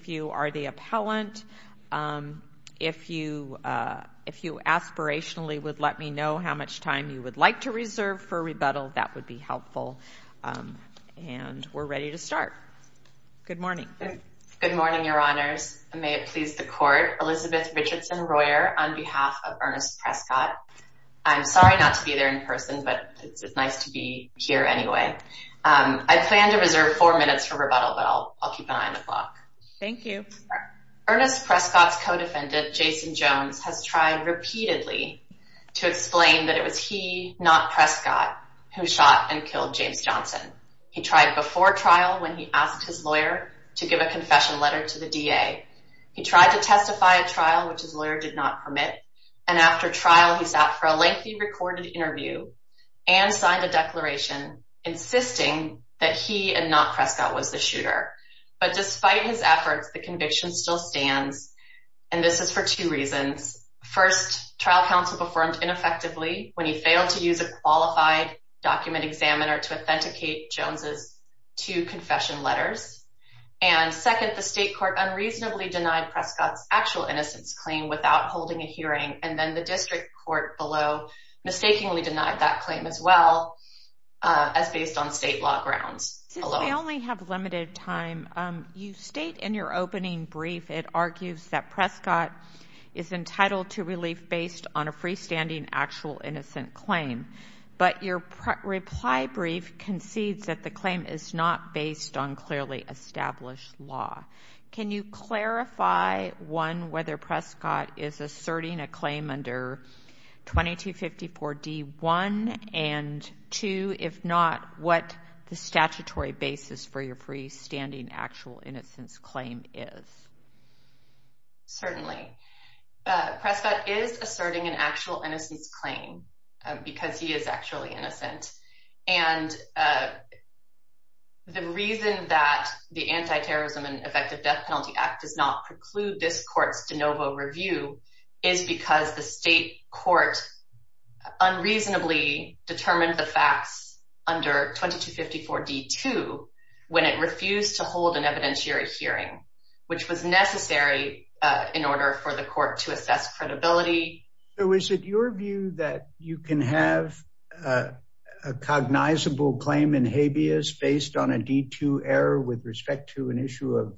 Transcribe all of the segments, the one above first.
If you are the appellant, if you aspirationally would let me know how much time you would like to reserve for rebuttal, that would be helpful. And we're ready to start. Good morning. Good morning, Your Honors. And may it please the Court, Elizabeth Richardson Royer on behalf of Ernest Prescott. I'm sorry not to be there in person, but it's nice to be here anyway. I plan to reserve four minutes for rebuttal, but I'll keep an eye on the clock. Thank you. Ernest Prescott's co-defendant, Jason Jones, has tried repeatedly to explain that it was he, not Prescott, who shot and killed James Johnson. He tried before trial when he asked his lawyer to give a confession letter to the DA. He tried to testify at trial, which his lawyer did not permit. And after trial, he sat for a lengthy recorded interview and signed a declaration insisting that he and not Prescott was the shooter. But despite his efforts, the conviction still stands. And this is for two reasons. First, trial counsel performed ineffectively when he failed to use a qualified document examiner to authenticate Jones's two confession letters. And second, the state court unreasonably denied Prescott's actual innocence claim without holding a hearing. And then the district court below mistakenly denied that claim as well as based on state law grounds alone. I only have limited time. You state in your opening brief, it argues that Prescott is entitled to relief based on a freestanding actual innocent claim. But your reply brief concedes that the claim is not based on clearly established law. Can you clarify, one, whether Prescott is asserting a claim under 2254 D1, and two, if not, what the statutory basis for your freestanding actual innocence claim is? Certainly. Prescott is asserting an actual innocence claim because he is actually innocent. And the reason that the Anti-Terrorism and Effective Death Penalty Act does not preclude this court's de novo review is because the state court unreasonably determined the facts under 2254 D2 when it refused to hold an evidentiary hearing, which was necessary in order for the court to assess credibility. So is it your view that you can have a cognizable claim in habeas based on a D2 error with respect to an issue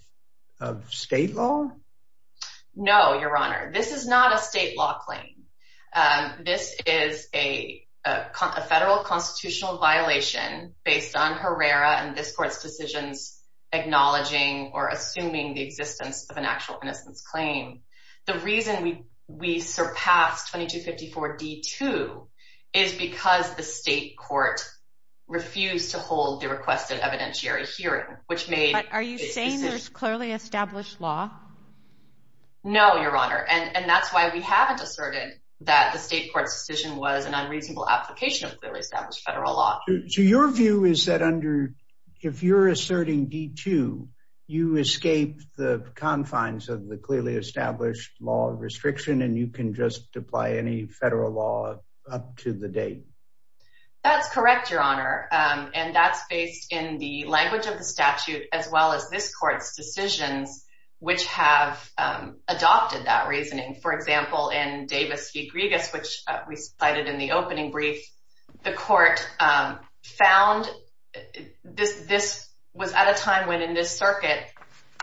of state law? No, Your Honor. This is not a state law claim. This is a federal constitutional violation based on Herrera and this court's decisions acknowledging or assuming the existence of an actual innocence claim. The reason we surpassed 2254 D2 is because the state court refused to hold the requested evidentiary hearing, which made- But are you saying there's clearly established law? No, Your Honor. And that's why we haven't asserted that the state court's decision was an unreasonable application of clearly established federal law. So your view is that under, if you're asserting D2, you escape the confines of the clearly established law restriction and you can just apply any federal law up to the date? That's correct, Your Honor. And that's based in the language of the statute as well as this court's decisions, which have adopted that reasoning. For example, in Davis v. Griegas, which we cited in the opening brief, the court found this was at a time when in this circuit,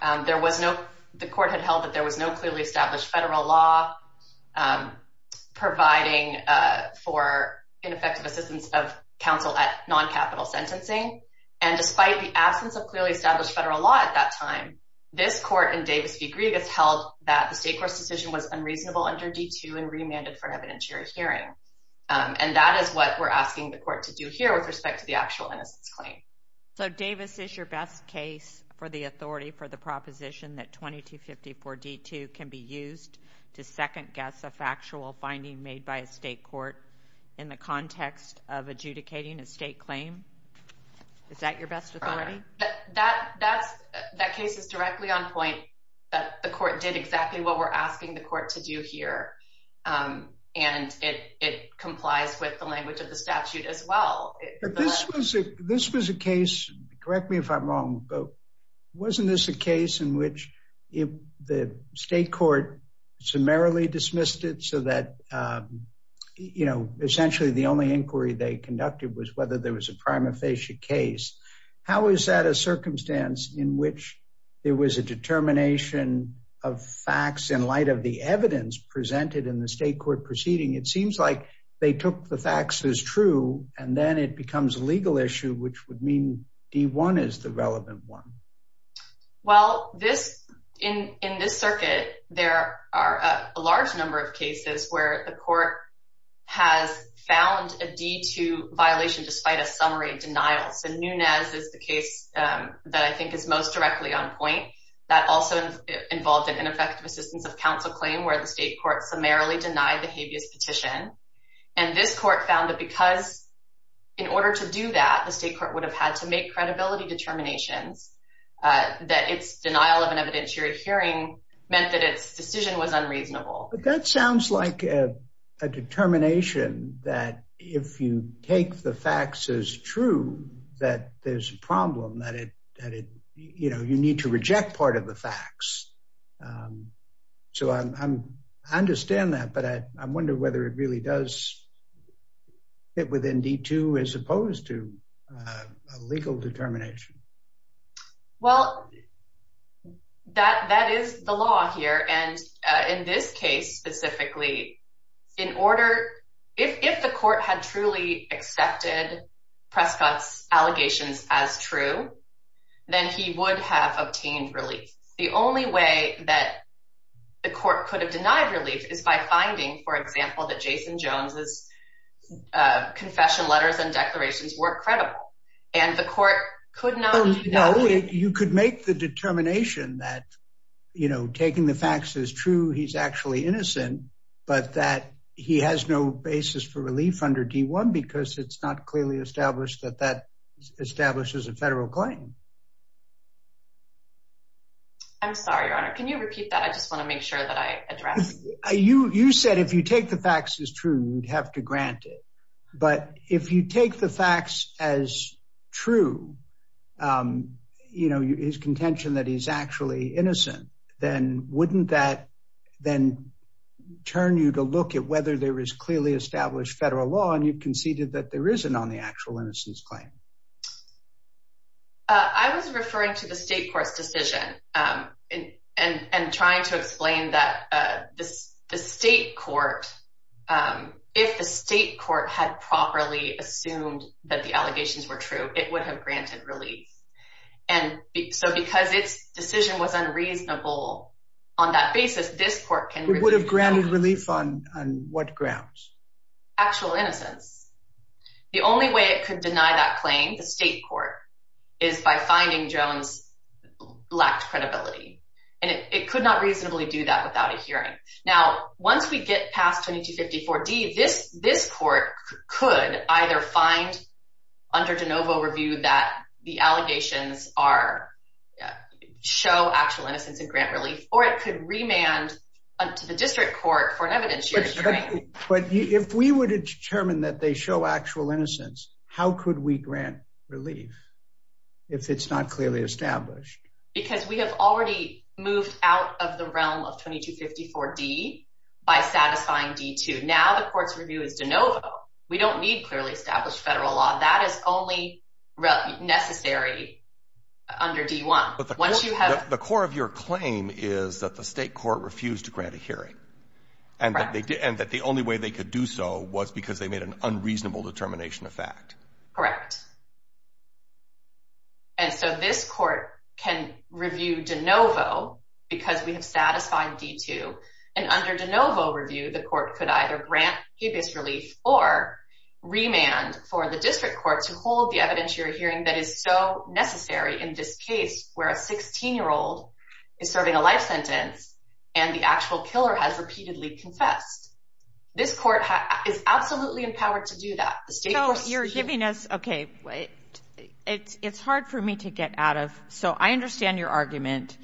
the court had held that there was no clearly established federal law providing for ineffective assistance of counsel at non-capital sentencing. And despite the absence of clearly established federal law at that time, this court in Davis v. Griegas held that the state court's decision was unreasonable under D2 and remanded for an evidentiary hearing. And that is what we're asking the court to do here with respect to the actual innocence claim. So Davis is your best case for the authority for the proposition that 2254 D2 can be used to second-guess a factual finding made by a state court in the context of adjudicating a state claim? Is that your best authority? Your Honor, that case is directly on point that the court did exactly what we're asking the court to do here and it complies with the language of the statute as well. This was a case, correct me if I'm wrong, but wasn't this a case in which the state court summarily dismissed it so that essentially the only inquiry they conducted was whether there was a prima facie case? How is that a circumstance in which there was a determination of facts in light of the evidence presented in the state court proceeding? It seems like they took the facts as true and then it becomes a legal issue, which would mean D1 is the relevant one. Well, in this circuit, there are a large number of cases where the court has found a D2 violation despite a summary denial. So Nunez is the case that I think is most directly on point. That also involved an ineffective assistance of counsel claim where the state court summarily denied the habeas petition. And this court found that because in order to do that, the state court would have had to make credibility determinations, that its denial of an evidentiary hearing meant that its decision was unreasonable. That sounds like a determination that if you take the facts as true, that there's a problem, that you need to reject part of the facts. So I understand that, but I wonder whether it really does fit within D2 as opposed to a legal determination. Well, that is the law here. And in this case specifically, if the court had truly accepted Prescott's allegations as true, then he would have obtained relief. The only way that the court could have denied relief is by finding, for example, that Jason Jones' confession letters and declarations were credible. And the court could not do that. You could make the determination that taking the facts as true, he's actually innocent, but that he has no basis for relief under D1 because it's not clearly established that that establishes a federal claim. I'm sorry, Your Honor. Can you repeat that? I just want to make sure that I address. You said if you take the facts as true, you'd have to grant it. But if you take the facts as true, his contention that he's actually innocent, then wouldn't that then turn you to look at whether there is clearly established federal law and you conceded that there isn't on the actual innocence claim? I was referring to the state court's decision and trying to explain that the state court, if the state court had properly assumed that the allegations were true, it would have granted relief. And so because its decision was unreasonable on that basis, this court can. It would have granted relief on what grounds? Actual innocence. The only way it could deny that claim, the state court, is by finding Jones' lacked credibility. And it could not reasonably do that without a hearing. Now, once we get past 2254D, this court could either find under de novo review that the allegations show actual innocence and grant relief, or it could remand to the district court for an evidence hearing. But if we were to determine that they show actual innocence, how could we grant relief if it's not clearly established? Because we have already moved out of the realm of 2254D by satisfying D2. Now the court's review is de novo. We don't need clearly established federal law. That is only necessary under D1. The core of your claim is that the state court refused to grant a hearing, and that the only way they could do so was because they made an unreasonable determination of fact. Correct. And so this court can review de novo because we have satisfied D2, and under de novo review, the court could either grant habeas relief or remand for the district court to hold the evidence hearing that is so necessary in this case, where a 16-year-old is serving a life sentence, and the actual killer has repeatedly confessed. This court is absolutely empowered to do that. The state court's... So you're giving us... Okay. It's hard for me to get out of... So I understand your argument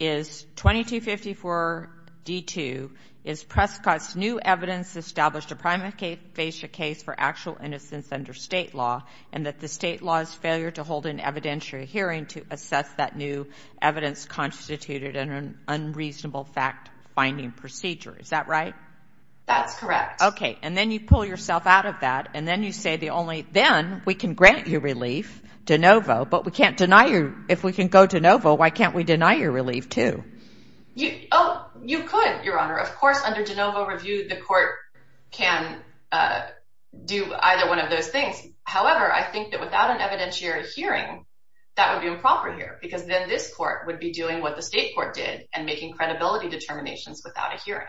is 2254D2 is Prescott's new evidence established to primate face a case for actual innocence under state law, and that the state law's failure to hold an evidentiary hearing to assess that new evidence constituted an unreasonable fact finding procedure. Is that right? That's correct. Okay. And then you pull yourself out of that, and then you say the only... Then we can grant you relief de novo, but we can't deny you... If we can go de novo, why can't we deny you relief too? Oh, you could, Your Honor. Of course, under de novo review, the court can do either one of those things. However, I think that without an evidentiary hearing, that would be improper here, because then this court would be doing what the state court did and making credibility determinations without a hearing.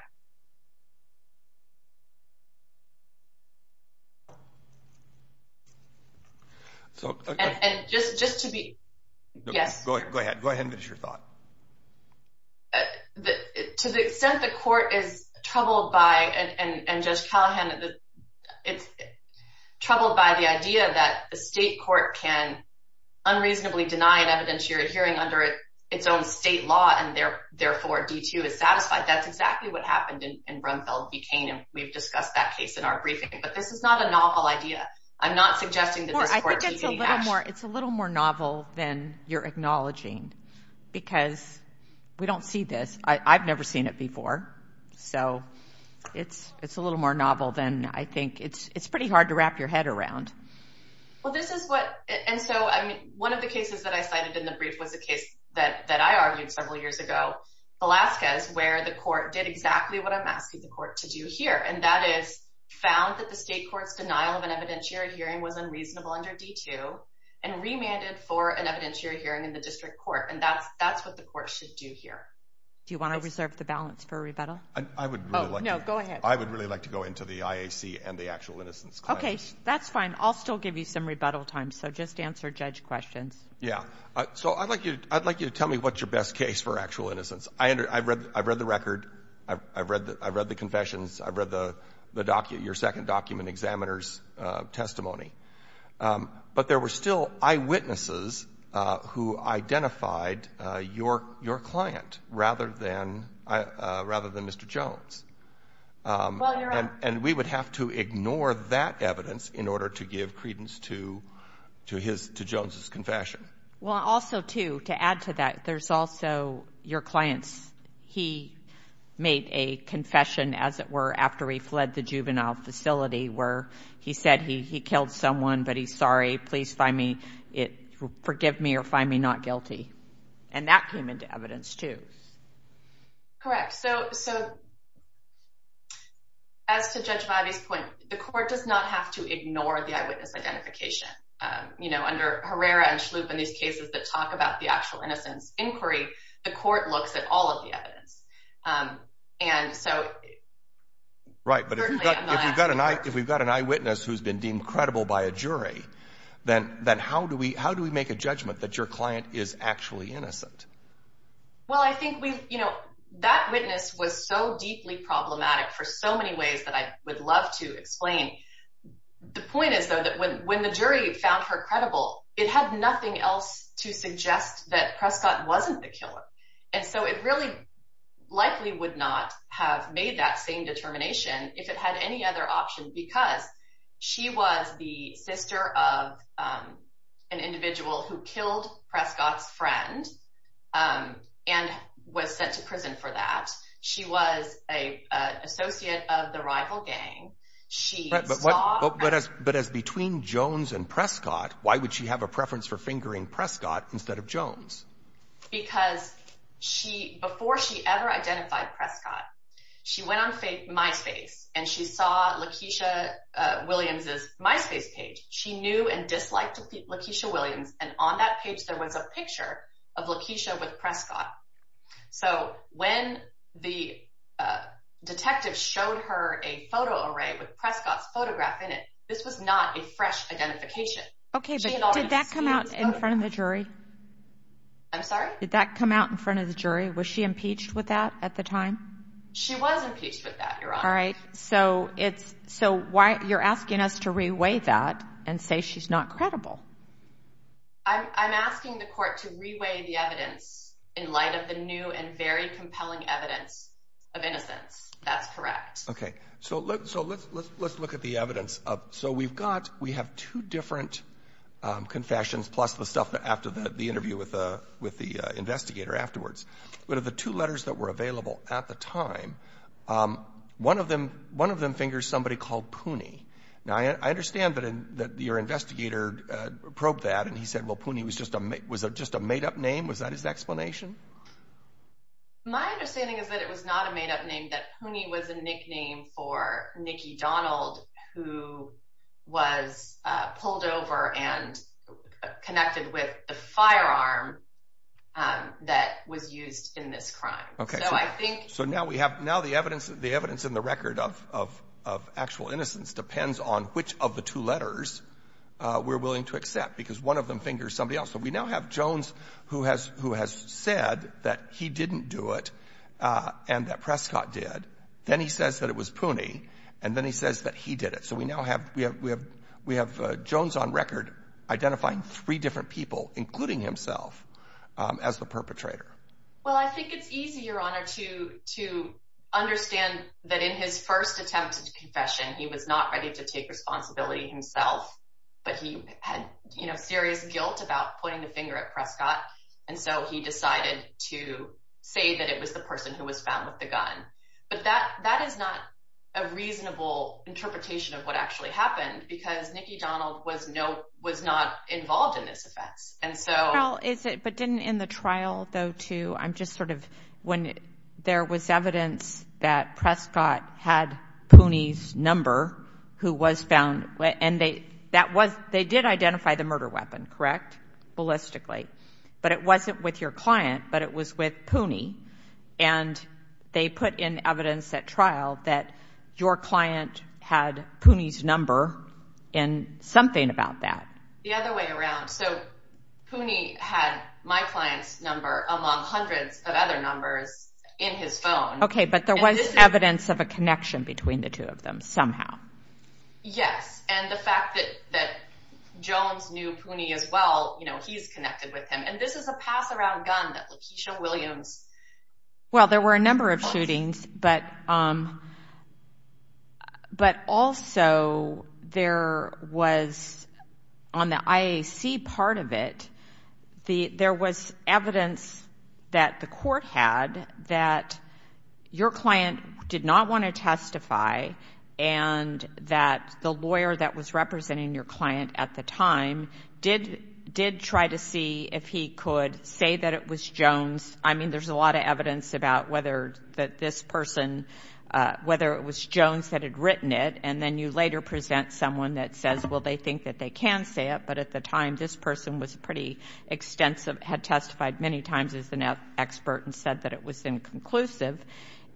So... And just to be... Yes. Go ahead. Go ahead and finish your thought. To the extent the court is troubled by, and Judge Callahan, it's troubled by the idea that the state court can unreasonably deny an evidentiary hearing under its own state law, and therefore D2 is satisfied, that's exactly what happened in Brumfeld v. Kane, and we've discussed that case in our briefing, but this is not a novel idea. I'm not suggesting that this court... Well, I think it's a little more... It's a little more novel than you're acknowledging, because we don't see this. I've never seen it before, so it's a little more novel than I think... It's pretty hard to wrap your head around. Well, this is what... And so, I mean, one of the cases that I cited in the brief was a case that I argued several years ago, Velasquez, where the court did exactly what I'm asking the court to do here, and that is found that the state court's denial of an evidentiary hearing was unreasonable under D2, and remanded for an evidentiary hearing in the district court, and that's what the court should do here. Do you want to reserve the balance for a rebuttal? I would really like to... Oh, no. Go ahead. I would really like to go into the IAC and the actual innocence claims. Okay. That's fine. I'll still give you some rebuttal time, so just answer judge questions. Yeah. So I'd like you to tell me what's your best case for actual innocence. I've read the record. I've read the confessions. I've read your second document, examiner's testimony. But there were still eyewitnesses who identified your client rather than Mr. Jones. And we would have to ignore that evidence in order to give credence to Jones's confession. Well, also, too, to add to that, there's also your client's... He made a confession, as it were, after he fled the juvenile facility, where he said he killed someone, but he's sorry, please forgive me or find me not guilty. And that came into evidence, too. Correct. So as to Judge Mavi's point, the court does not have to ignore the eyewitness identification. You know, under Herrera and Schlup in these cases that talk about the actual innocence inquiry, the court looks at all of the evidence. And so... Right. But if we've got an eyewitness who's been deemed credible by a jury, then how do we make a judgment that your client is actually innocent? Well, I think that witness was so deeply problematic for so many ways that I would love to explain. The point is, though, that when the jury found her credible, it had nothing else to suggest that Prescott wasn't the killer. And so it really likely would not have made that same determination if it had any other option because she was the sister of an individual who killed Prescott's friend and was sent to prison for that. She was an associate of the rival gang. But as between Jones and Prescott, why would she have a preference for fingering Prescott instead of Jones? Because before she ever identified Prescott, she went on MySpace and she saw Lakeisha Williams's MySpace page. She knew and disliked Lakeisha Williams. And on that page, there was a picture of Lakeisha with Prescott. So when the detective showed her a photo array with Prescott's photograph in it, this was not a fresh identification. Okay, but did that come out in front of the jury? I'm sorry? Did that come out in front of the jury? Was she impeached with that at the time? She was impeached with that, Your Honor. All right. So it's... So why... You're asking us to reweigh that and say she's not credible. I'm asking the court to reweigh the evidence in light of the new and very compelling evidence of innocence. That's correct. Okay. So let's look at the evidence. So we've got... We have two different confessions plus the stuff after the interview with the investigator afterwards. What are the two letters that were available at the time? One of them fingers somebody called Poonie. Now, I understand that your investigator probed that and he said, well, Poonie was just a... Was it just a made-up name? Was that his explanation? My understanding is that it was not a made-up name, that Poonie was a nickname for Nicky Donald, who was pulled over and connected with the firearm that was used in this crime. Okay. So I think... So now we have... Now the evidence in the record of actual innocence depends on which of the two letters we're willing to accept because one of them fingers somebody else. So we now have Jones who has said that he didn't do it and that Prescott did. Then he says that it was Poonie and then he says that he did it. So we now have Jones on record identifying three different people, including himself, as the perpetrator. Well, I think it's easy, Your Honor, to understand that in his first attempt at confession, he was not ready to take responsibility himself, but he had serious guilt about pointing the finger at Prescott and so he decided to say that it was the person who was found with the gun. But that is not a reasonable interpretation of what actually happened because Nicky Donald was not involved in this offense. And so... Well, is it... But didn't in the trial, though, too... I'm just sort of... When there was evidence that Prescott had Poonie's number who was found... And they... That was... They did identify the murder weapon, correct? Ballistically. But it wasn't with your client, but it was with Poonie and they put in evidence at trial that your client had Poonie's number and something about that. The other way around. So Poonie had my client's number among hundreds of other numbers in his phone. Okay, but there was evidence of a connection between the two of them somehow. Yes. And the fact that Jones knew Poonie as well, he's connected with him. And this is a pass-around gun that Lakeisha Williams... there was evidence that the court had that your client did not want to testify and that the lawyer that was representing your client at the time did try to see if he could say that it was Jones. I mean, there's a lot of evidence about whether this person, whether it was Jones that had written it, and then you later present someone that says, well, they think that they can say it, but at the time this person was pretty extensive, had testified many times as an expert and said that it was inconclusive.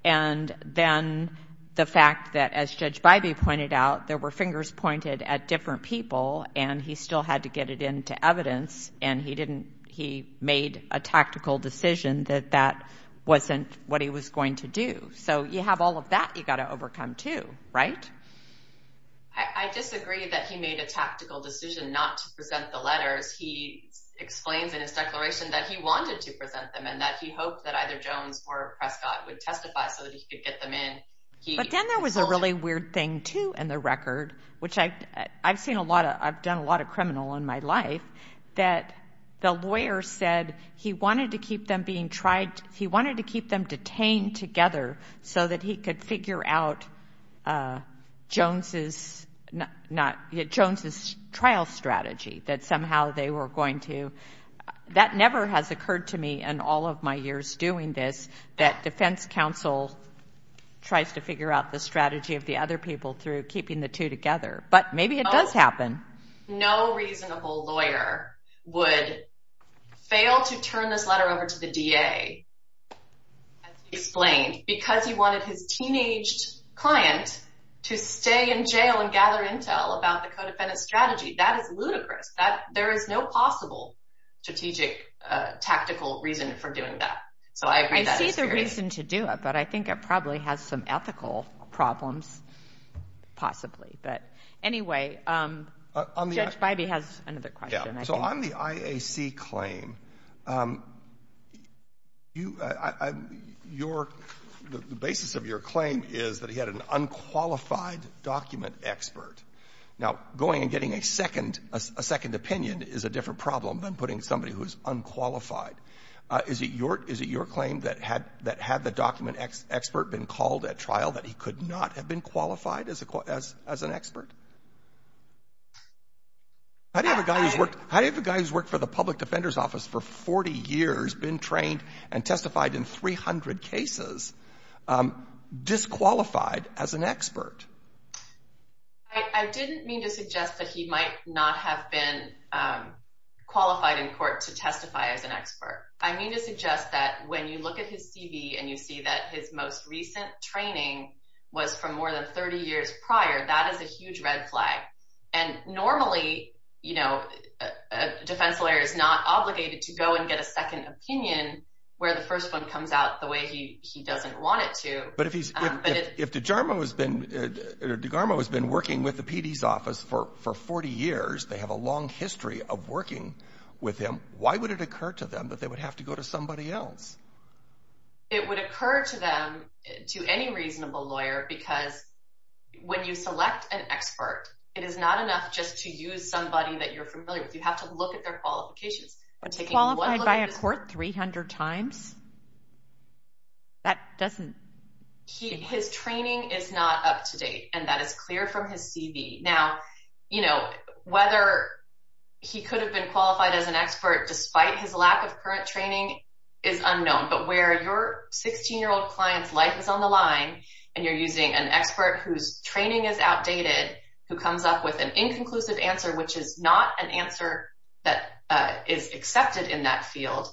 And then the fact that, as Judge Bybee pointed out, there were fingers pointed at different people and he still had to get it into evidence and he made a tactical decision that that wasn't what he was going to do. So you have all of that you've got to overcome too, right? I disagree that he made a tactical decision not to present the letters. He explains in his declaration that he wanted to present them and that he hoped that either Jones or Prescott would testify so that he could get them in. But then there was a really weird thing too in the record, which I've seen a lot of, I've done a lot of criminal in my life, that the lawyer said he wanted to keep them being tried, he wanted to keep them detained together so that he could figure out Jones's trial strategy, that somehow they were going to, that never has occurred to me in all of my years doing this, that defense counsel tries to figure out the strategy of the other people through keeping the two together. But maybe it does happen. No reasonable lawyer would fail to turn this letter over to the DA, as he explained, because he wanted his teenaged client to stay in jail and gather intel about the co-defendant's strategy. That is ludicrous. There is no possible strategic tactical reason for doing that. So I agree that is true. I see the reason to do it, but I think it probably has some ethical problems, possibly. But anyway, Judge Bybee has another question. So on the IAC claim, the basis of your claim is that he had an unqualified document expert. Now, going and getting a second opinion is a different problem than putting somebody who is unqualified. Is it your claim that had the document expert been called at trial, that he could not have been qualified as an expert? How do you have a guy who's worked for the public defender's office for 40 years, been trained and testified in 300 cases, disqualified as an expert? I didn't mean to suggest that he might not have been qualified in court to testify as an expert. I mean to suggest that when you look at his CV and you see that his most recent training was from more than 30 years prior, that is a huge red flag. And normally, you know, a defense lawyer is not obligated to go and get a second opinion where the first one comes out the way he doesn't want it to. But if DeGarmo has been working with the PD's office for 40 years, they have a long history of working with him, why would it occur to them that they would have to go to somebody else? It would occur to them, to any reasonable lawyer, because when you select an expert, it is not enough just to use somebody that you're familiar with. You have to look at their qualifications. But qualified by a court 300 times? That doesn't... His training is not up to date, and that is clear from his CV. Now, you know, whether he could have been qualified as an expert despite his lack of current training is unknown. But where your 16-year-old client's life is on the line and you're using an expert whose training is outdated, who comes up with an inconclusive answer, which is not an answer that is accepted in that field,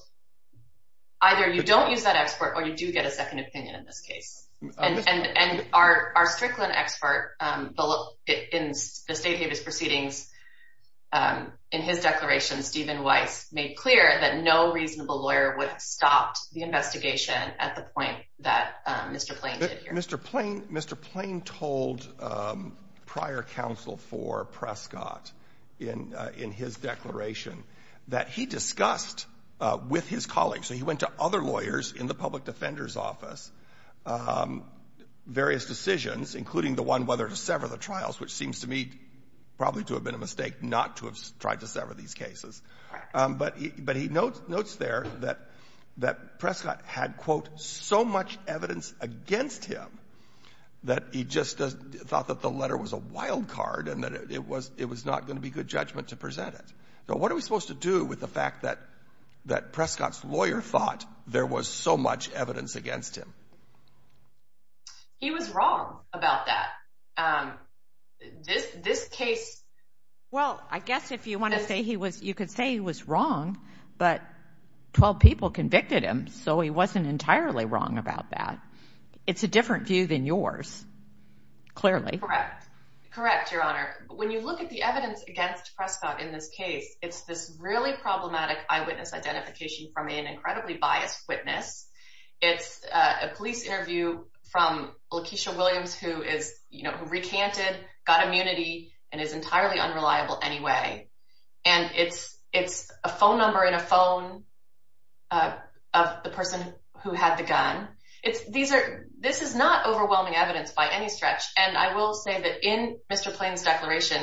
either you don't use that expert or you do get a second opinion in this case. And our Strickland expert in the State Habeas Proceedings, in his declaration, Stephen Weiss, made clear that no reasonable lawyer would have stopped the investigation at the point that Mr. Plain did here. Mr. Plain told prior counsel for Prescott in his declaration that he discussed with his colleagues, so he went to other lawyers in the public defender's office, various decisions, including the one whether to sever the trials, which seems to me probably to have been a mistake not to have tried to sever these cases. But he notes there that Prescott had, quote, so much evidence against him that he just thought that the letter was a wild card and that it was not going to be good judgment to present it. So what are we supposed to do with the fact that Prescott's lawyer thought there was so much evidence against him? He was wrong about that. This case... Well, I guess if you want to say he was, you could say he was wrong, but 12 people convicted him, so he wasn't entirely wrong about that. It's a different view than yours, clearly. Correct. Correct, Your Honor. When you look at the evidence against Prescott in this case, it's this really problematic eyewitness identification from an incredibly biased witness. It's a police interview from Lakeisha Williams who recanted, got immunity, and is entirely unreliable anyway. And it's a phone number in a phone of the person who had the gun. This is not overwhelming evidence by any stretch, and I will say that in Mr. Plain's declaration,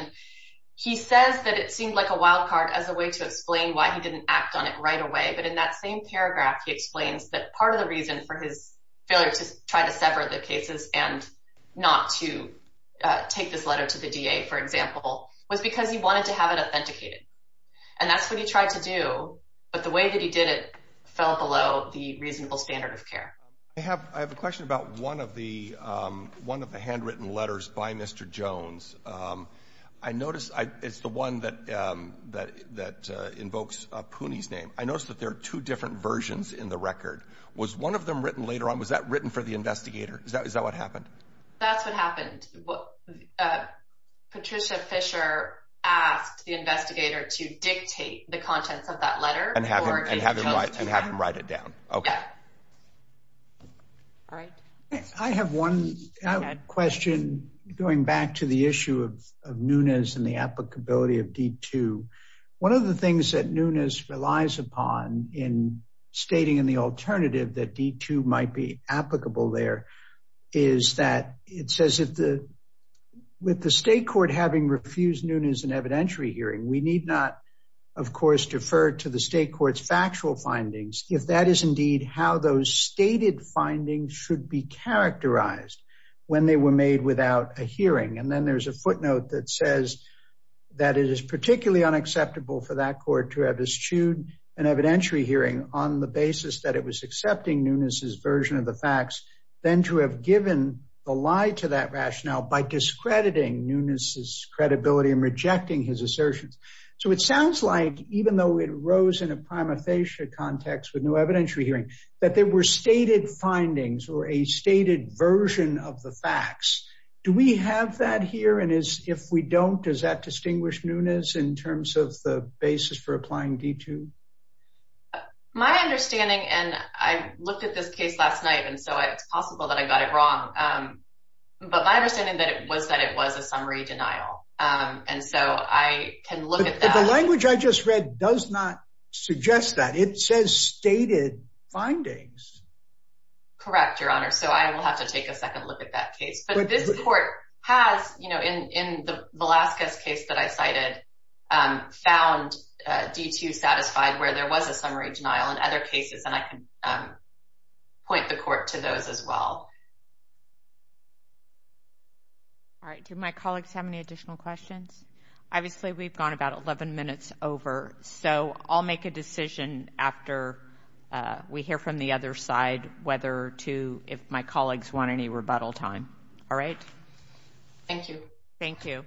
he says that it seemed like a wild card as a way to explain why he didn't act on it right away, but in that same paragraph he explains that part of the reason for his failure to try to sever the cases and not to take this letter to the DA, for example, was because he wanted to have it authenticated. And that's what he tried to do, but the way that he did it fell below the reasonable standard of care. I have a question about one of the handwritten letters by Mr. Jones. I notice it's the one that invokes Poonie's name. I notice that there are two different versions in the record. Was one of them written later on? Was that written for the investigator? Is that what happened? That's what happened. Patricia Fisher asked the investigator to dictate the contents of that letter. And have him write it down. I have one question going back to the issue of Nunes and the applicability of D2. One of the things that Nunes relies upon in stating in the alternative that D2 might be applicable there is that it says with the state court having refused Nunes an evidentiary hearing, we need not, of course, defer to the state court's factual findings, if that is indeed how those stated findings should be characterized when they were made without a hearing. And then there's a footnote that says that it is particularly unacceptable for that court to have eschewed an evidentiary hearing on the basis that it was accepting Nunes's version of the facts, than to have given a lie to that rationale by discrediting Nunes's credibility and rejecting his assertions. So it sounds like, even though it arose in a prima facie context with no evidentiary hearing, that there were stated findings or a stated version of the facts. Do we have that here? And if we don't, does that distinguish Nunes in terms of the basis for applying D2? My understanding, and I looked at this case last night, and so it's possible that I got it wrong. But my understanding was that it was a summary denial. And so I can look at that. But the language I just read does not suggest that. It says stated findings. Correct, Your Honor. So I will have to take a second look at that case. But this court has, you know, in the Velazquez case that I cited, found D2 satisfied, where there was a summary denial in other cases. And I can point the court to those as well. All right. Do my colleagues have any additional questions? Obviously, we've gone about 11 minutes over. So I'll make a decision after we hear from the other side whether to, if my colleagues want any rebuttal time. All right? Thank you. Thank you.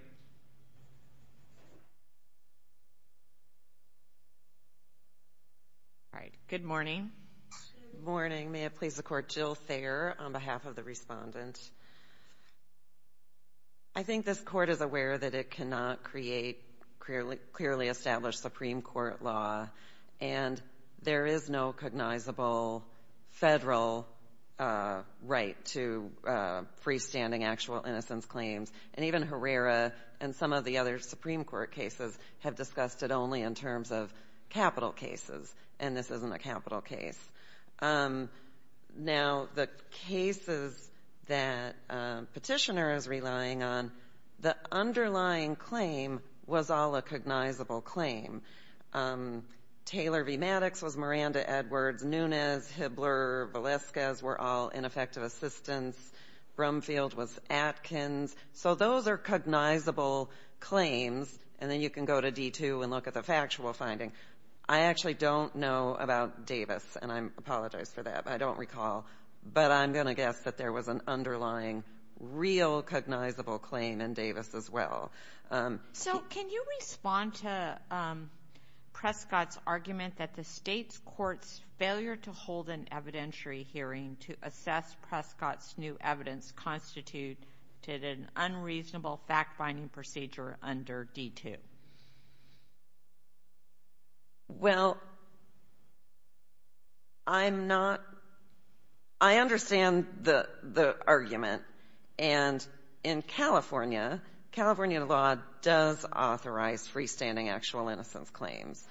All right. Good morning. Good morning. May it please the Court. Jill Thayer on behalf of the Respondent. I think this court is aware that it cannot create clearly established Supreme Court law. And there is no cognizable federal right to freestanding actual innocence claims. And even Herrera and some of the other Supreme Court cases have discussed it only in terms of capital cases. And this isn't a capital case. Now, the cases that Petitioner is relying on, the underlying claim was all a cognizable claim. Taylor v. Maddox was Miranda-Edwards. Nunes, Hibbler, Velazquez were all ineffective assistants. Brumfield was Atkins. So those are cognizable claims. And then you can go to D2 and look at the factual finding. I actually don't know about Davis, and I apologize for that. I don't recall. But I'm going to guess that there was an underlying real cognizable claim in Davis as well. So can you respond to Prescott's argument that the state's court's failure to hold an evidentiary hearing to assess Prescott's new evidence constituted an unreasonable fact-finding procedure under D2? Well, I'm not—I understand the argument. And in California, California law does authorize freestanding actual innocence claims.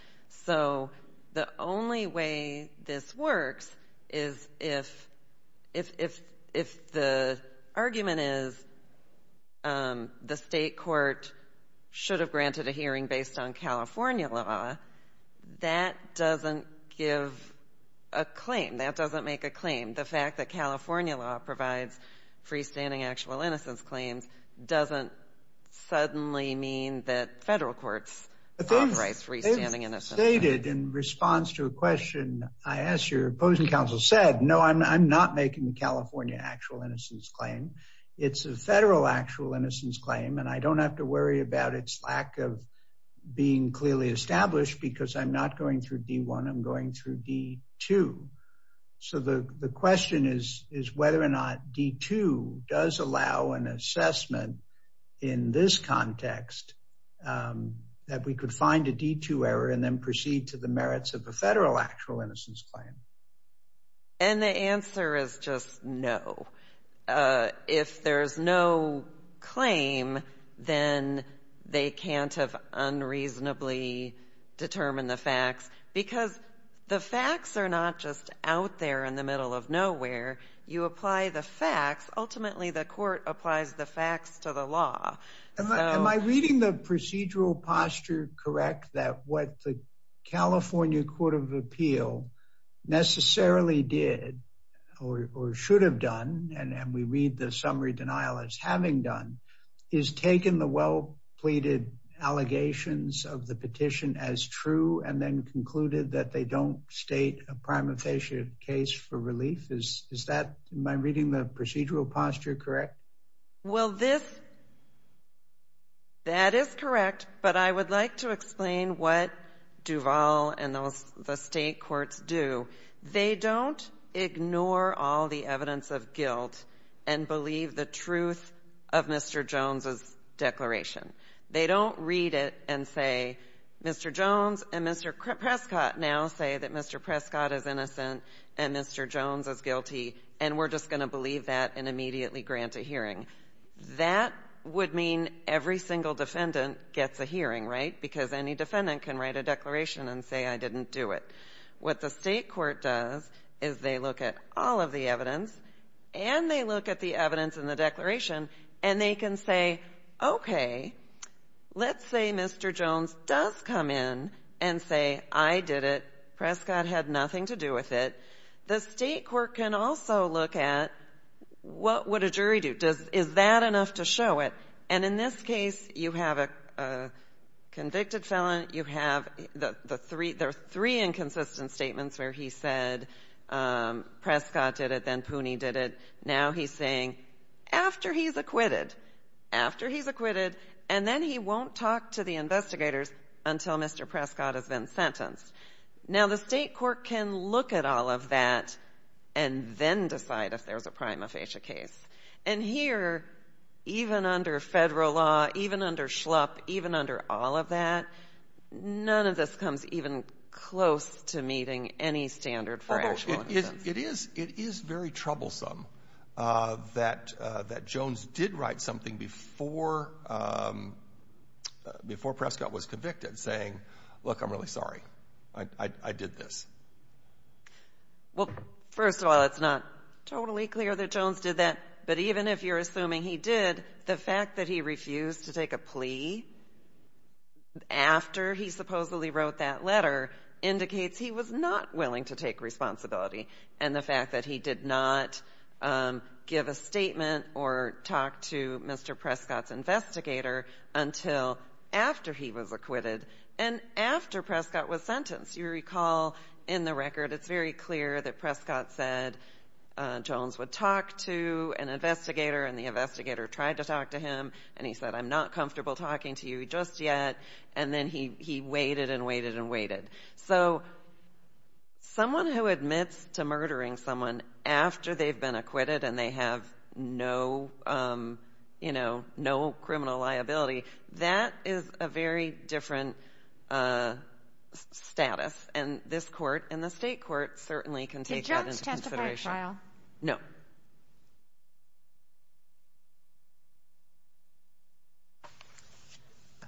So the only way this works is if the argument is the state court should have granted a hearing based on California law, that doesn't give a claim. That doesn't make a claim. The fact that California law provides freestanding actual innocence claims doesn't suddenly mean that federal courts authorize freestanding innocence claims. It is stated in response to a question I asked your opposing counsel said, no, I'm not making the California actual innocence claim. It's a federal actual innocence claim, and I don't have to worry about its lack of being clearly established because I'm not going through D1. I'm going through D2. So the question is whether or not D2 does allow an assessment in this context that we could find a D2 error and then proceed to the merits of the federal actual innocence claim. And the answer is just no. If there is no claim, then they can't have unreasonably determined the facts because the facts are not just out there in the middle of nowhere. You apply the facts. Ultimately, the court applies the facts to the law. Am I reading the procedural posture correct that what the California Court of Appeal necessarily did or should have done, and we read the summary denial as having done, is taken the well-pleaded allegations of the petition as true and then concluded that they don't state a prima facie case for relief? Is that, am I reading the procedural posture correct? Well, this, that is correct. But I would like to explain what Duval and the state courts do. They don't ignore all the evidence of guilt and believe the truth of Mr. Jones's declaration. They don't read it and say, Mr. Jones and Mr. Prescott now say that Mr. Prescott is innocent and Mr. Jones is guilty, and we're just going to believe that and immediately grant a hearing. That would mean every single defendant gets a hearing, right, because any defendant can write a declaration and say, I didn't do it. What the state court does is they look at all of the evidence and they look at the evidence in the declaration and they can say, okay, let's say Mr. Jones does come in and say, I did it, Prescott had nothing to do with it. The state court can also look at what would a jury do? Is that enough to show it? And in this case, you have a convicted felon, you have the three inconsistent statements where he said Prescott did it, then Pooney did it, now he's saying, after he's acquitted, after he's acquitted, and then he won't talk to the investigators until Mr. Prescott has been sentenced. Now, the state court can look at all of that and then decide if there's a prima facie case. And here, even under federal law, even under SHLUP, even under all of that, none of this comes even close to meeting any standard for actual innocence. It is very troublesome that Jones did write something before Prescott was convicted saying, look, I'm really sorry, I did this. Well, first of all, it's not totally clear that Jones did that. But even if you're assuming he did, the fact that he refused to take a plea after he supposedly wrote that letter indicates he was not willing to take responsibility. And the fact that he did not give a statement or talk to Mr. Prescott's investigator until after he was acquitted and after Prescott was sentenced. You recall in the record, it's very clear that Prescott said Jones would talk to an investigator and the investigator tried to talk to him and he said, I'm not comfortable talking to you just yet, and then he waited and waited and waited. So someone who admits to murdering someone after they've been acquitted and they have no criminal liability, that is a very different status. And this court and the state court certainly can take that into consideration. Did Jones testify at trial? No.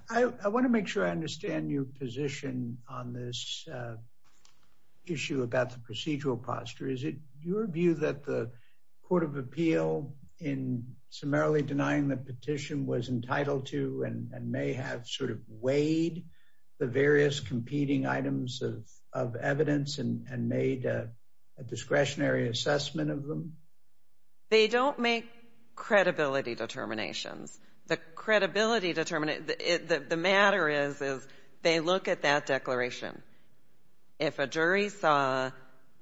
I want to make sure I understand your position on this issue about the procedural posture. Is it your view that the Court of Appeal in summarily denying the petition was entitled to and may have sort of weighed the various competing items of evidence and made a discretionary assessment of them? They don't make credibility determinations. The matter is they look at that declaration. If a jury saw,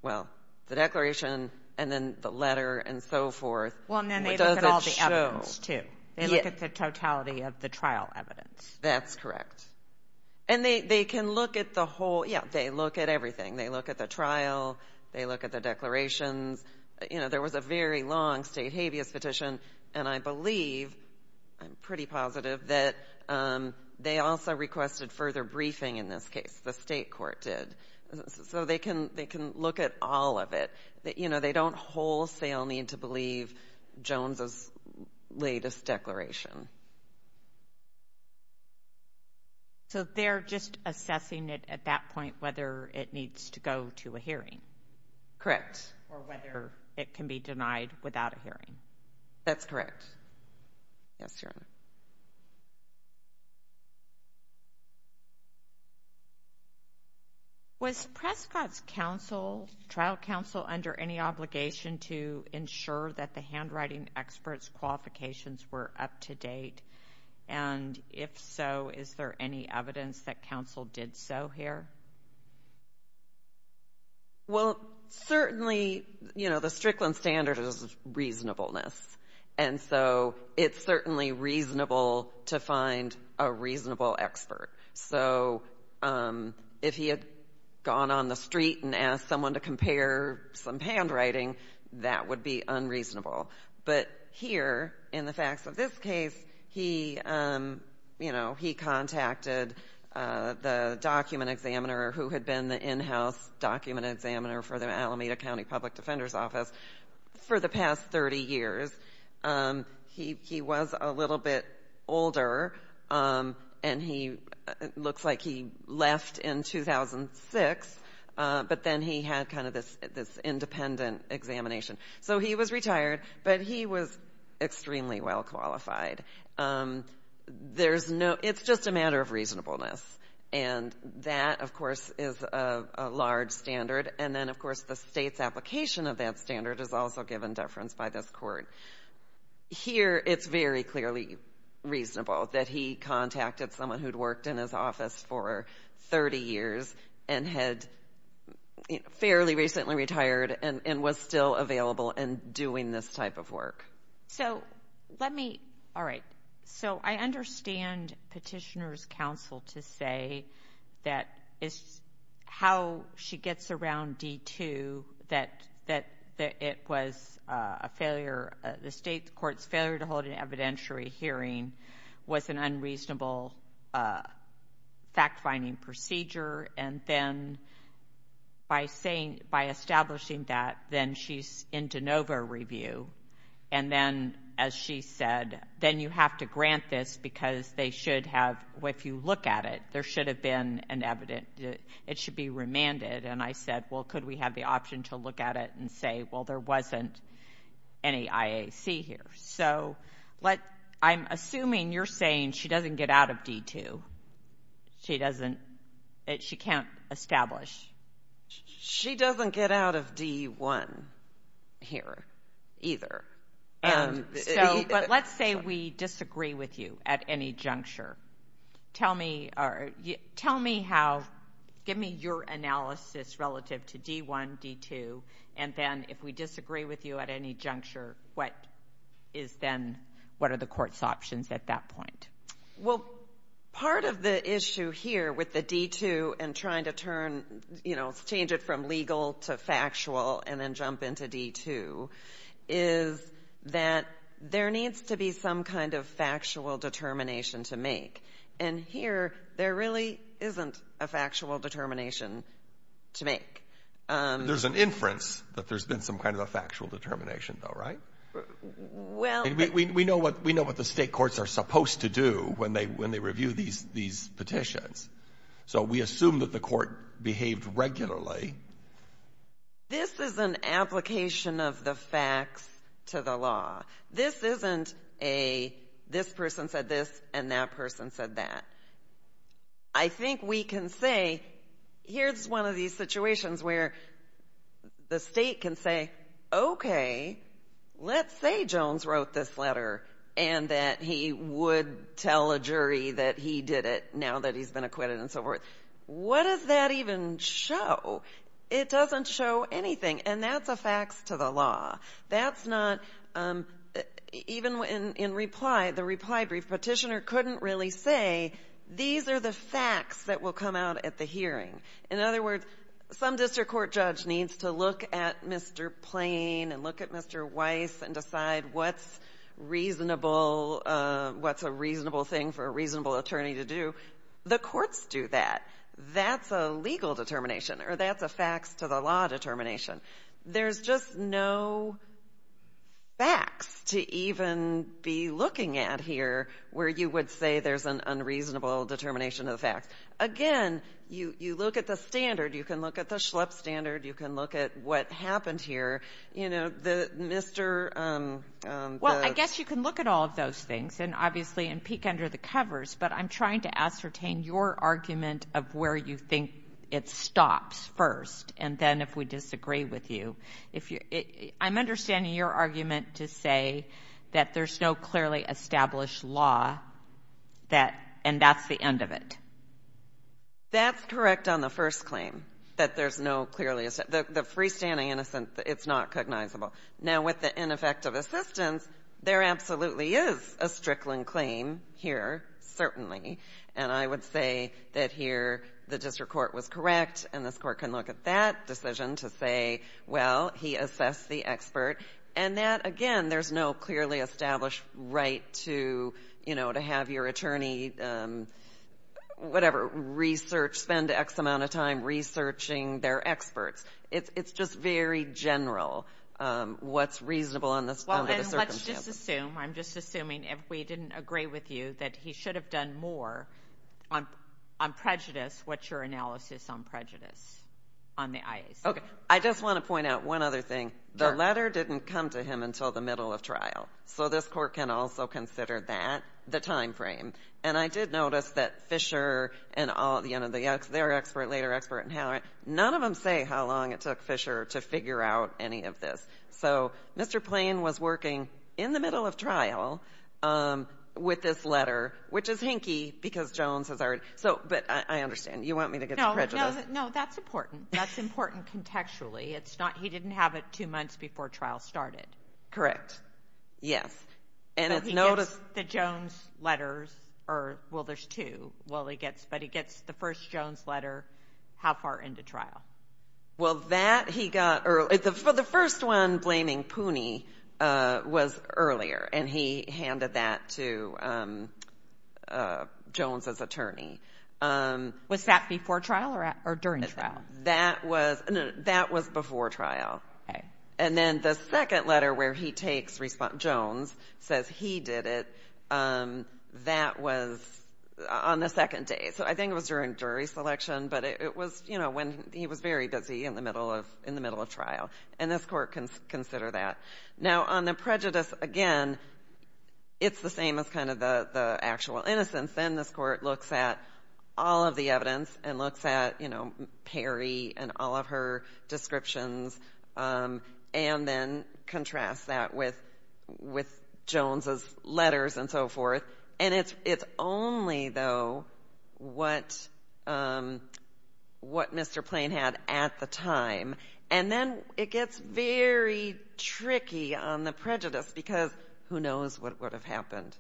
well, the declaration and then the letter and so forth, what does it show? Well, and then they look at all the evidence too. They look at the totality of the trial evidence. That's correct. And they can look at the whole, yeah, they look at everything. They look at the trial. They look at the declarations. You know, there was a very long state habeas petition, and I believe, I'm pretty positive, that they also requested further briefing in this case. The state court did. So they can look at all of it. You know, they don't wholesale need to believe Jones' latest declaration. So they're just assessing it at that point whether it needs to go to a hearing? Correct. Or whether it can be denied without a hearing? That's correct. Yes, Your Honor. Was Prescott's trial counsel under any obligation to ensure that the handwriting expert's qualifications were up to date? And if so, is there any evidence that counsel did so here? Well, certainly, you know, the Strickland standard is reasonableness. And so it's certainly reasonable to find a reasonable expert. So if he had gone on the street and asked someone to compare some handwriting, that would be unreasonable. But here, in the facts of this case, he contacted the document examiner who had been the in-house document examiner for the Alameda County Public Defender's Office for the past 30 years. He was a little bit older, and it looks like he left in 2006. But then he had kind of this independent examination. So he was retired, but he was extremely well qualified. It's just a matter of reasonableness. And that, of course, is a large standard. And then, of course, the state's application of that standard is also given deference by this court. Here, it's very clearly reasonable that he contacted someone who'd worked in his office for 30 years and had fairly recently retired and was still available and doing this type of work. So let me – all right. So I understand Petitioner's counsel to say that it's how she gets around D-2, that it was a failure. The state court's failure to hold an evidentiary hearing was an unreasonable fact-finding procedure. And then by establishing that, then she's in de novo review. And then, as she said, then you have to grant this because they should have – if you look at it, there should have been an evidentiary. It should be remanded. And I said, well, could we have the option to look at it and say, well, there wasn't any IAC here. So I'm assuming you're saying she doesn't get out of D-2. She doesn't – she can't establish. She doesn't get out of D-1 here either. But let's say we disagree with you at any juncture. Tell me how – give me your analysis relative to D-1, D-2, and then if we disagree with you at any juncture, what is then – what are the court's options at that point? Well, part of the issue here with the D-2 and trying to turn – change it from legal to factual and then jump into D-2 is that there needs to be some kind of factual determination to make. And here, there really isn't a factual determination to make. There's an inference that there's been some kind of a factual determination, though, right? We know what the state courts are supposed to do when they review these petitions. So we assume that the court behaved regularly. This is an application of the facts to the law. This isn't a this person said this and that person said that. I think we can say here's one of these situations where the state can say, okay, let's say Jones wrote this letter and that he would tell a jury that he did it now that he's been acquitted and so forth. What does that even show? It doesn't show anything, and that's a facts to the law. That's not – even in reply, the reply brief, petitioner couldn't really say, these are the facts that will come out at the hearing. In other words, some district court judge needs to look at Mr. Plain and look at Mr. Weiss and decide what's reasonable, what's a reasonable thing for a reasonable attorney to do. The courts do that. That's a legal determination, or that's a facts to the law determination. There's just no facts to even be looking at here where you would say there's an unreasonable determination of the facts. Again, you look at the standard. You can look at the Schlepp standard. You can look at what happened here. You know, the Mr. – Well, I guess you can look at all of those things and obviously and peek under the covers, but I'm trying to ascertain your argument of where you think it stops first, and then if we disagree with you. I'm understanding your argument to say that there's no clearly established law and that's the end of it. That's correct on the first claim, that there's no clearly established law. The freestanding innocence, it's not cognizable. Now, with the ineffective assistance, there absolutely is a Strickland claim here, certainly, and I would say that here the district court was correct, and this court can look at that decision to say, well, he assessed the expert, and that, again, there's no clearly established right to have your attorney, whatever, research, spend X amount of time researching their experts. It's just very general what's reasonable under the circumstances. Well, and let's just assume, I'm just assuming if we didn't agree with you that he should have done more on prejudice, what's your analysis on prejudice on the IAC? Okay, I just want to point out one other thing. The letter didn't come to him until the middle of trial, so this court can also consider that, the time frame, and I did notice that Fisher and their expert, later expert, none of them say how long it took Fisher to figure out any of this, so Mr. Plain was working in the middle of trial with this letter, which is hinky because Jones has already, but I understand. You want me to get to prejudice? No, that's important. That's important contextually. He didn't have it two months before trial started. Correct, yes. So he gets the Jones letters, or, well, there's two, but he gets the first Jones letter, how far into trial? Well, that he got early. The first one blaming Pooney was earlier, and he handed that to Jones' attorney. Was that before trial or during trial? That was before trial, and then the second letter where he takes response, Jones, says he did it, that was on the second day, so I think it was during jury selection, but it was when he was very busy in the middle of trial, and this court can consider that. Now, on the prejudice, again, it's the same as kind of the actual innocence. Then this court looks at all of the evidence and looks at Perry and all of her descriptions and then contrasts that with Jones' letters and so forth, and it's only, though, what Mr. Plain had at the time, and then it gets very tricky on the prejudice because who knows what would have happened?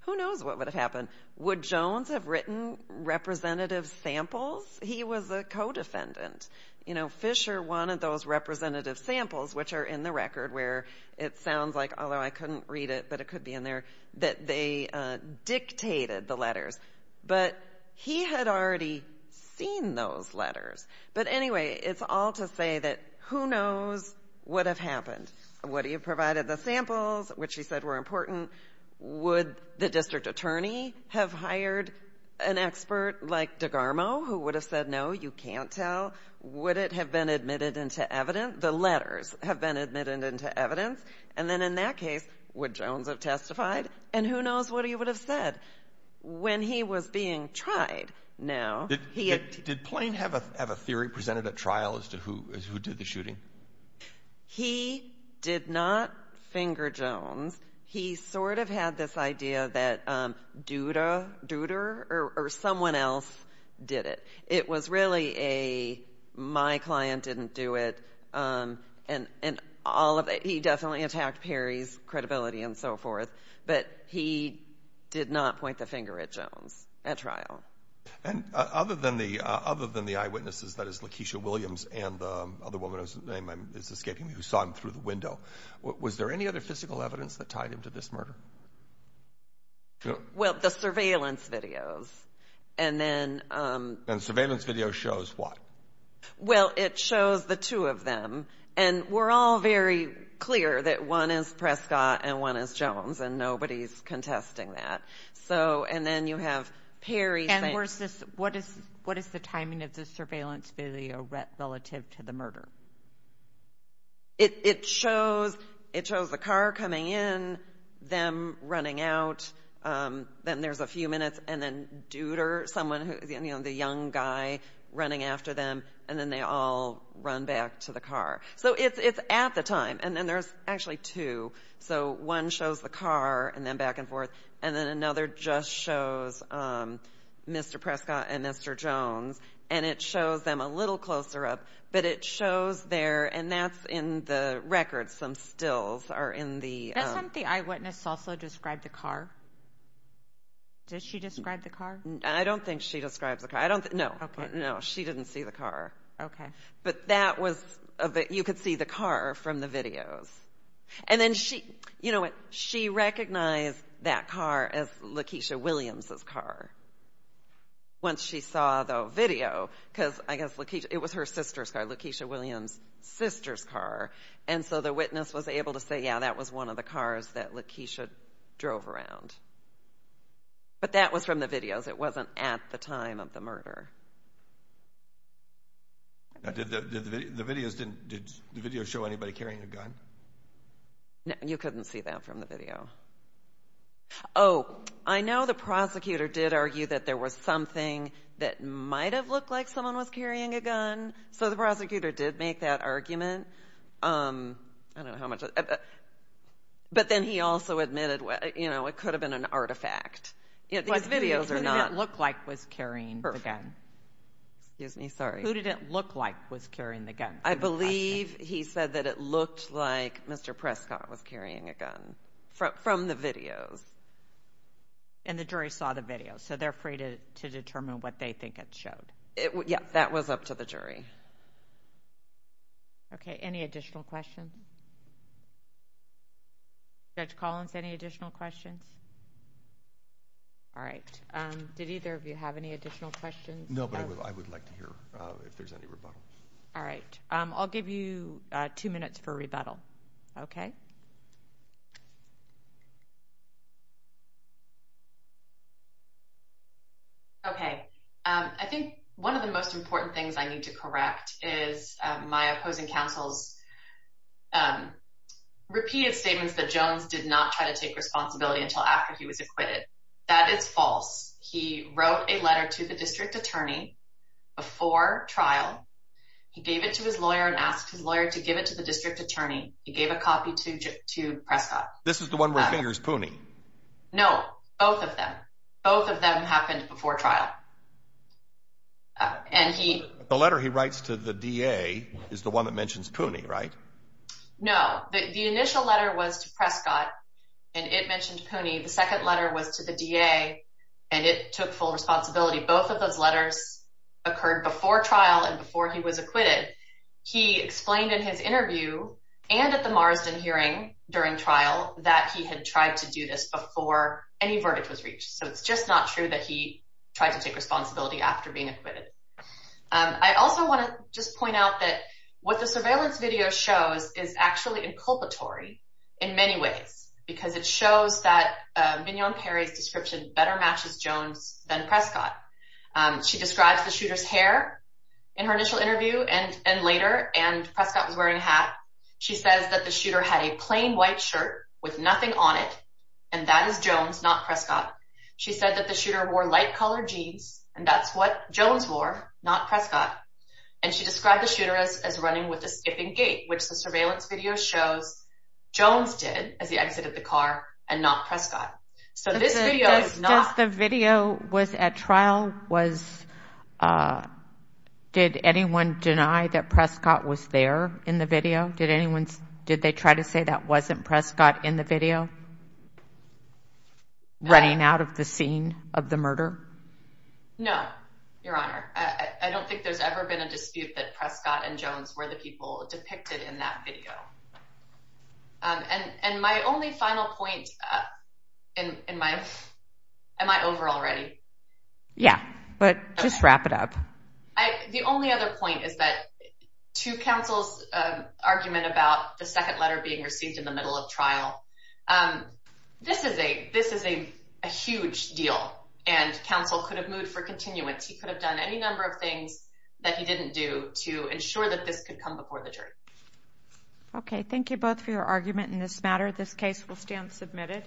Who knows what would have happened? Would Jones have written representative samples? He was a co-defendant. You know, Fisher wanted those representative samples, which are in the record where it sounds like, although I couldn't read it but it could be in there, that they dictated the letters, but he had already seen those letters. But anyway, it's all to say that who knows what would have happened. Would he have provided the samples, which he said were important? Would the district attorney have hired an expert like DeGarmo who would have said, no, you can't tell? Would it have been admitted into evidence? The letters have been admitted into evidence. And then in that case, would Jones have testified? And who knows what he would have said? When he was being tried now, he had to— Did Plain have a theory presented at trial as to who did the shooting? He did not finger Jones. He sort of had this idea that Duder or someone else did it. It was really a my client didn't do it and all of it. He definitely attacked Perry's credibility and so forth, but he did not point the finger at Jones at trial. Other than the eyewitnesses, that is Lakeisha Williams and the other woman whose name is escaping me who saw him through the window, was there any other physical evidence that tied him to this murder? Well, the surveillance videos. And then— And the surveillance video shows what? Well, it shows the two of them. And we're all very clear that one is Prescott and one is Jones, and nobody's contesting that. And then you have Perry saying— And what is the timing of the surveillance video relative to the murder? It shows the car coming in, them running out. Then there's a few minutes, and then Duder, the young guy running after them, and then they all run back to the car. So it's at the time, and then there's actually two. So one shows the car and then back and forth, and then another just shows Mr. Prescott and Mr. Jones, and it shows them a little closer up, but it shows there, and that's in the record, some stills are in the— Doesn't the eyewitness also describe the car? Did she describe the car? I don't think she describes the car. No, no, she didn't see the car. But that was—you could see the car from the videos. And then she—you know what? She recognized that car as Lakeisha Williams' car once she saw the video because, I guess, it was her sister's car, Lakeisha Williams' sister's car, and so the witness was able to say, yeah, that was one of the cars that Lakeisha drove around. But that was from the videos. It wasn't at the time of the murder. Did the videos show anybody carrying a gun? No, you couldn't see that from the video. Oh, I know the prosecutor did argue that there was something that might have looked like someone was carrying a gun, so the prosecutor did make that argument. I don't know how much—but then he also admitted, you know, it could have been an artifact. These videos are not— Who did it look like was carrying the gun? Excuse me, sorry. Who did it look like was carrying the gun? I believe he said that it looked like Mr. Prescott was carrying a gun from the videos. And the jury saw the videos, so they're free to determine what they think it showed. Yeah, that was up to the jury. Okay, any additional questions? Judge Collins, any additional questions? All right. Did either of you have any additional questions? No, but I would like to hear if there's any rebuttal. All right. I'll give you two minutes for rebuttal, okay? Okay. I think one of the most important things I need to correct is my opposing counsel's repeated statements that Jones did not try to take responsibility until after he was acquitted. That is false. He wrote a letter to the district attorney before trial. He gave it to his lawyer and asked his lawyer to give it to the district attorney. He gave a copy to Prescott. This is the one where he fingers Pooney. No, both of them. Both of them happened before trial. And he— The letter he writes to the DA is the one that mentions Pooney, right? No. The initial letter was to Prescott, and it mentioned Pooney. The second letter was to the DA, and it took full responsibility. Both of those letters occurred before trial and before he was acquitted. He explained in his interview and at the Marsden hearing during trial that he had tried to do this before any verdict was reached. So it's just not true that he tried to take responsibility after being acquitted. I also want to just point out that what the surveillance video shows is actually inculpatory in many ways because it shows that Vignon Perry's description better matches Jones than Prescott. She describes the shooter's hair in her initial interview and later, and Prescott was wearing a hat. She says that the shooter had a plain white shirt with nothing on it, and that is Jones, not Prescott. She said that the shooter wore light-colored jeans, and that's what Jones wore, not Prescott. And she described the shooter as running with a skipping gait, which the surveillance video shows Jones did as he exited the car and not Prescott. So this video is not— Does the video was at trial was—did anyone deny that Prescott was there in the video? Did anyone—did they try to say that wasn't Prescott in the video running out of the scene of the murder? No, Your Honor. I don't think there's ever been a dispute that Prescott and Jones were the people depicted in that video. And my only final point in my—am I over already? Yeah, but just wrap it up. The only other point is that to counsel's argument about the second letter being received in the middle of trial, this is a huge deal, and counsel could have moved for continuance. He could have done any number of things that he didn't do to ensure that this could come before the jury. Okay, thank you both for your argument in this matter. This case will stand submitted.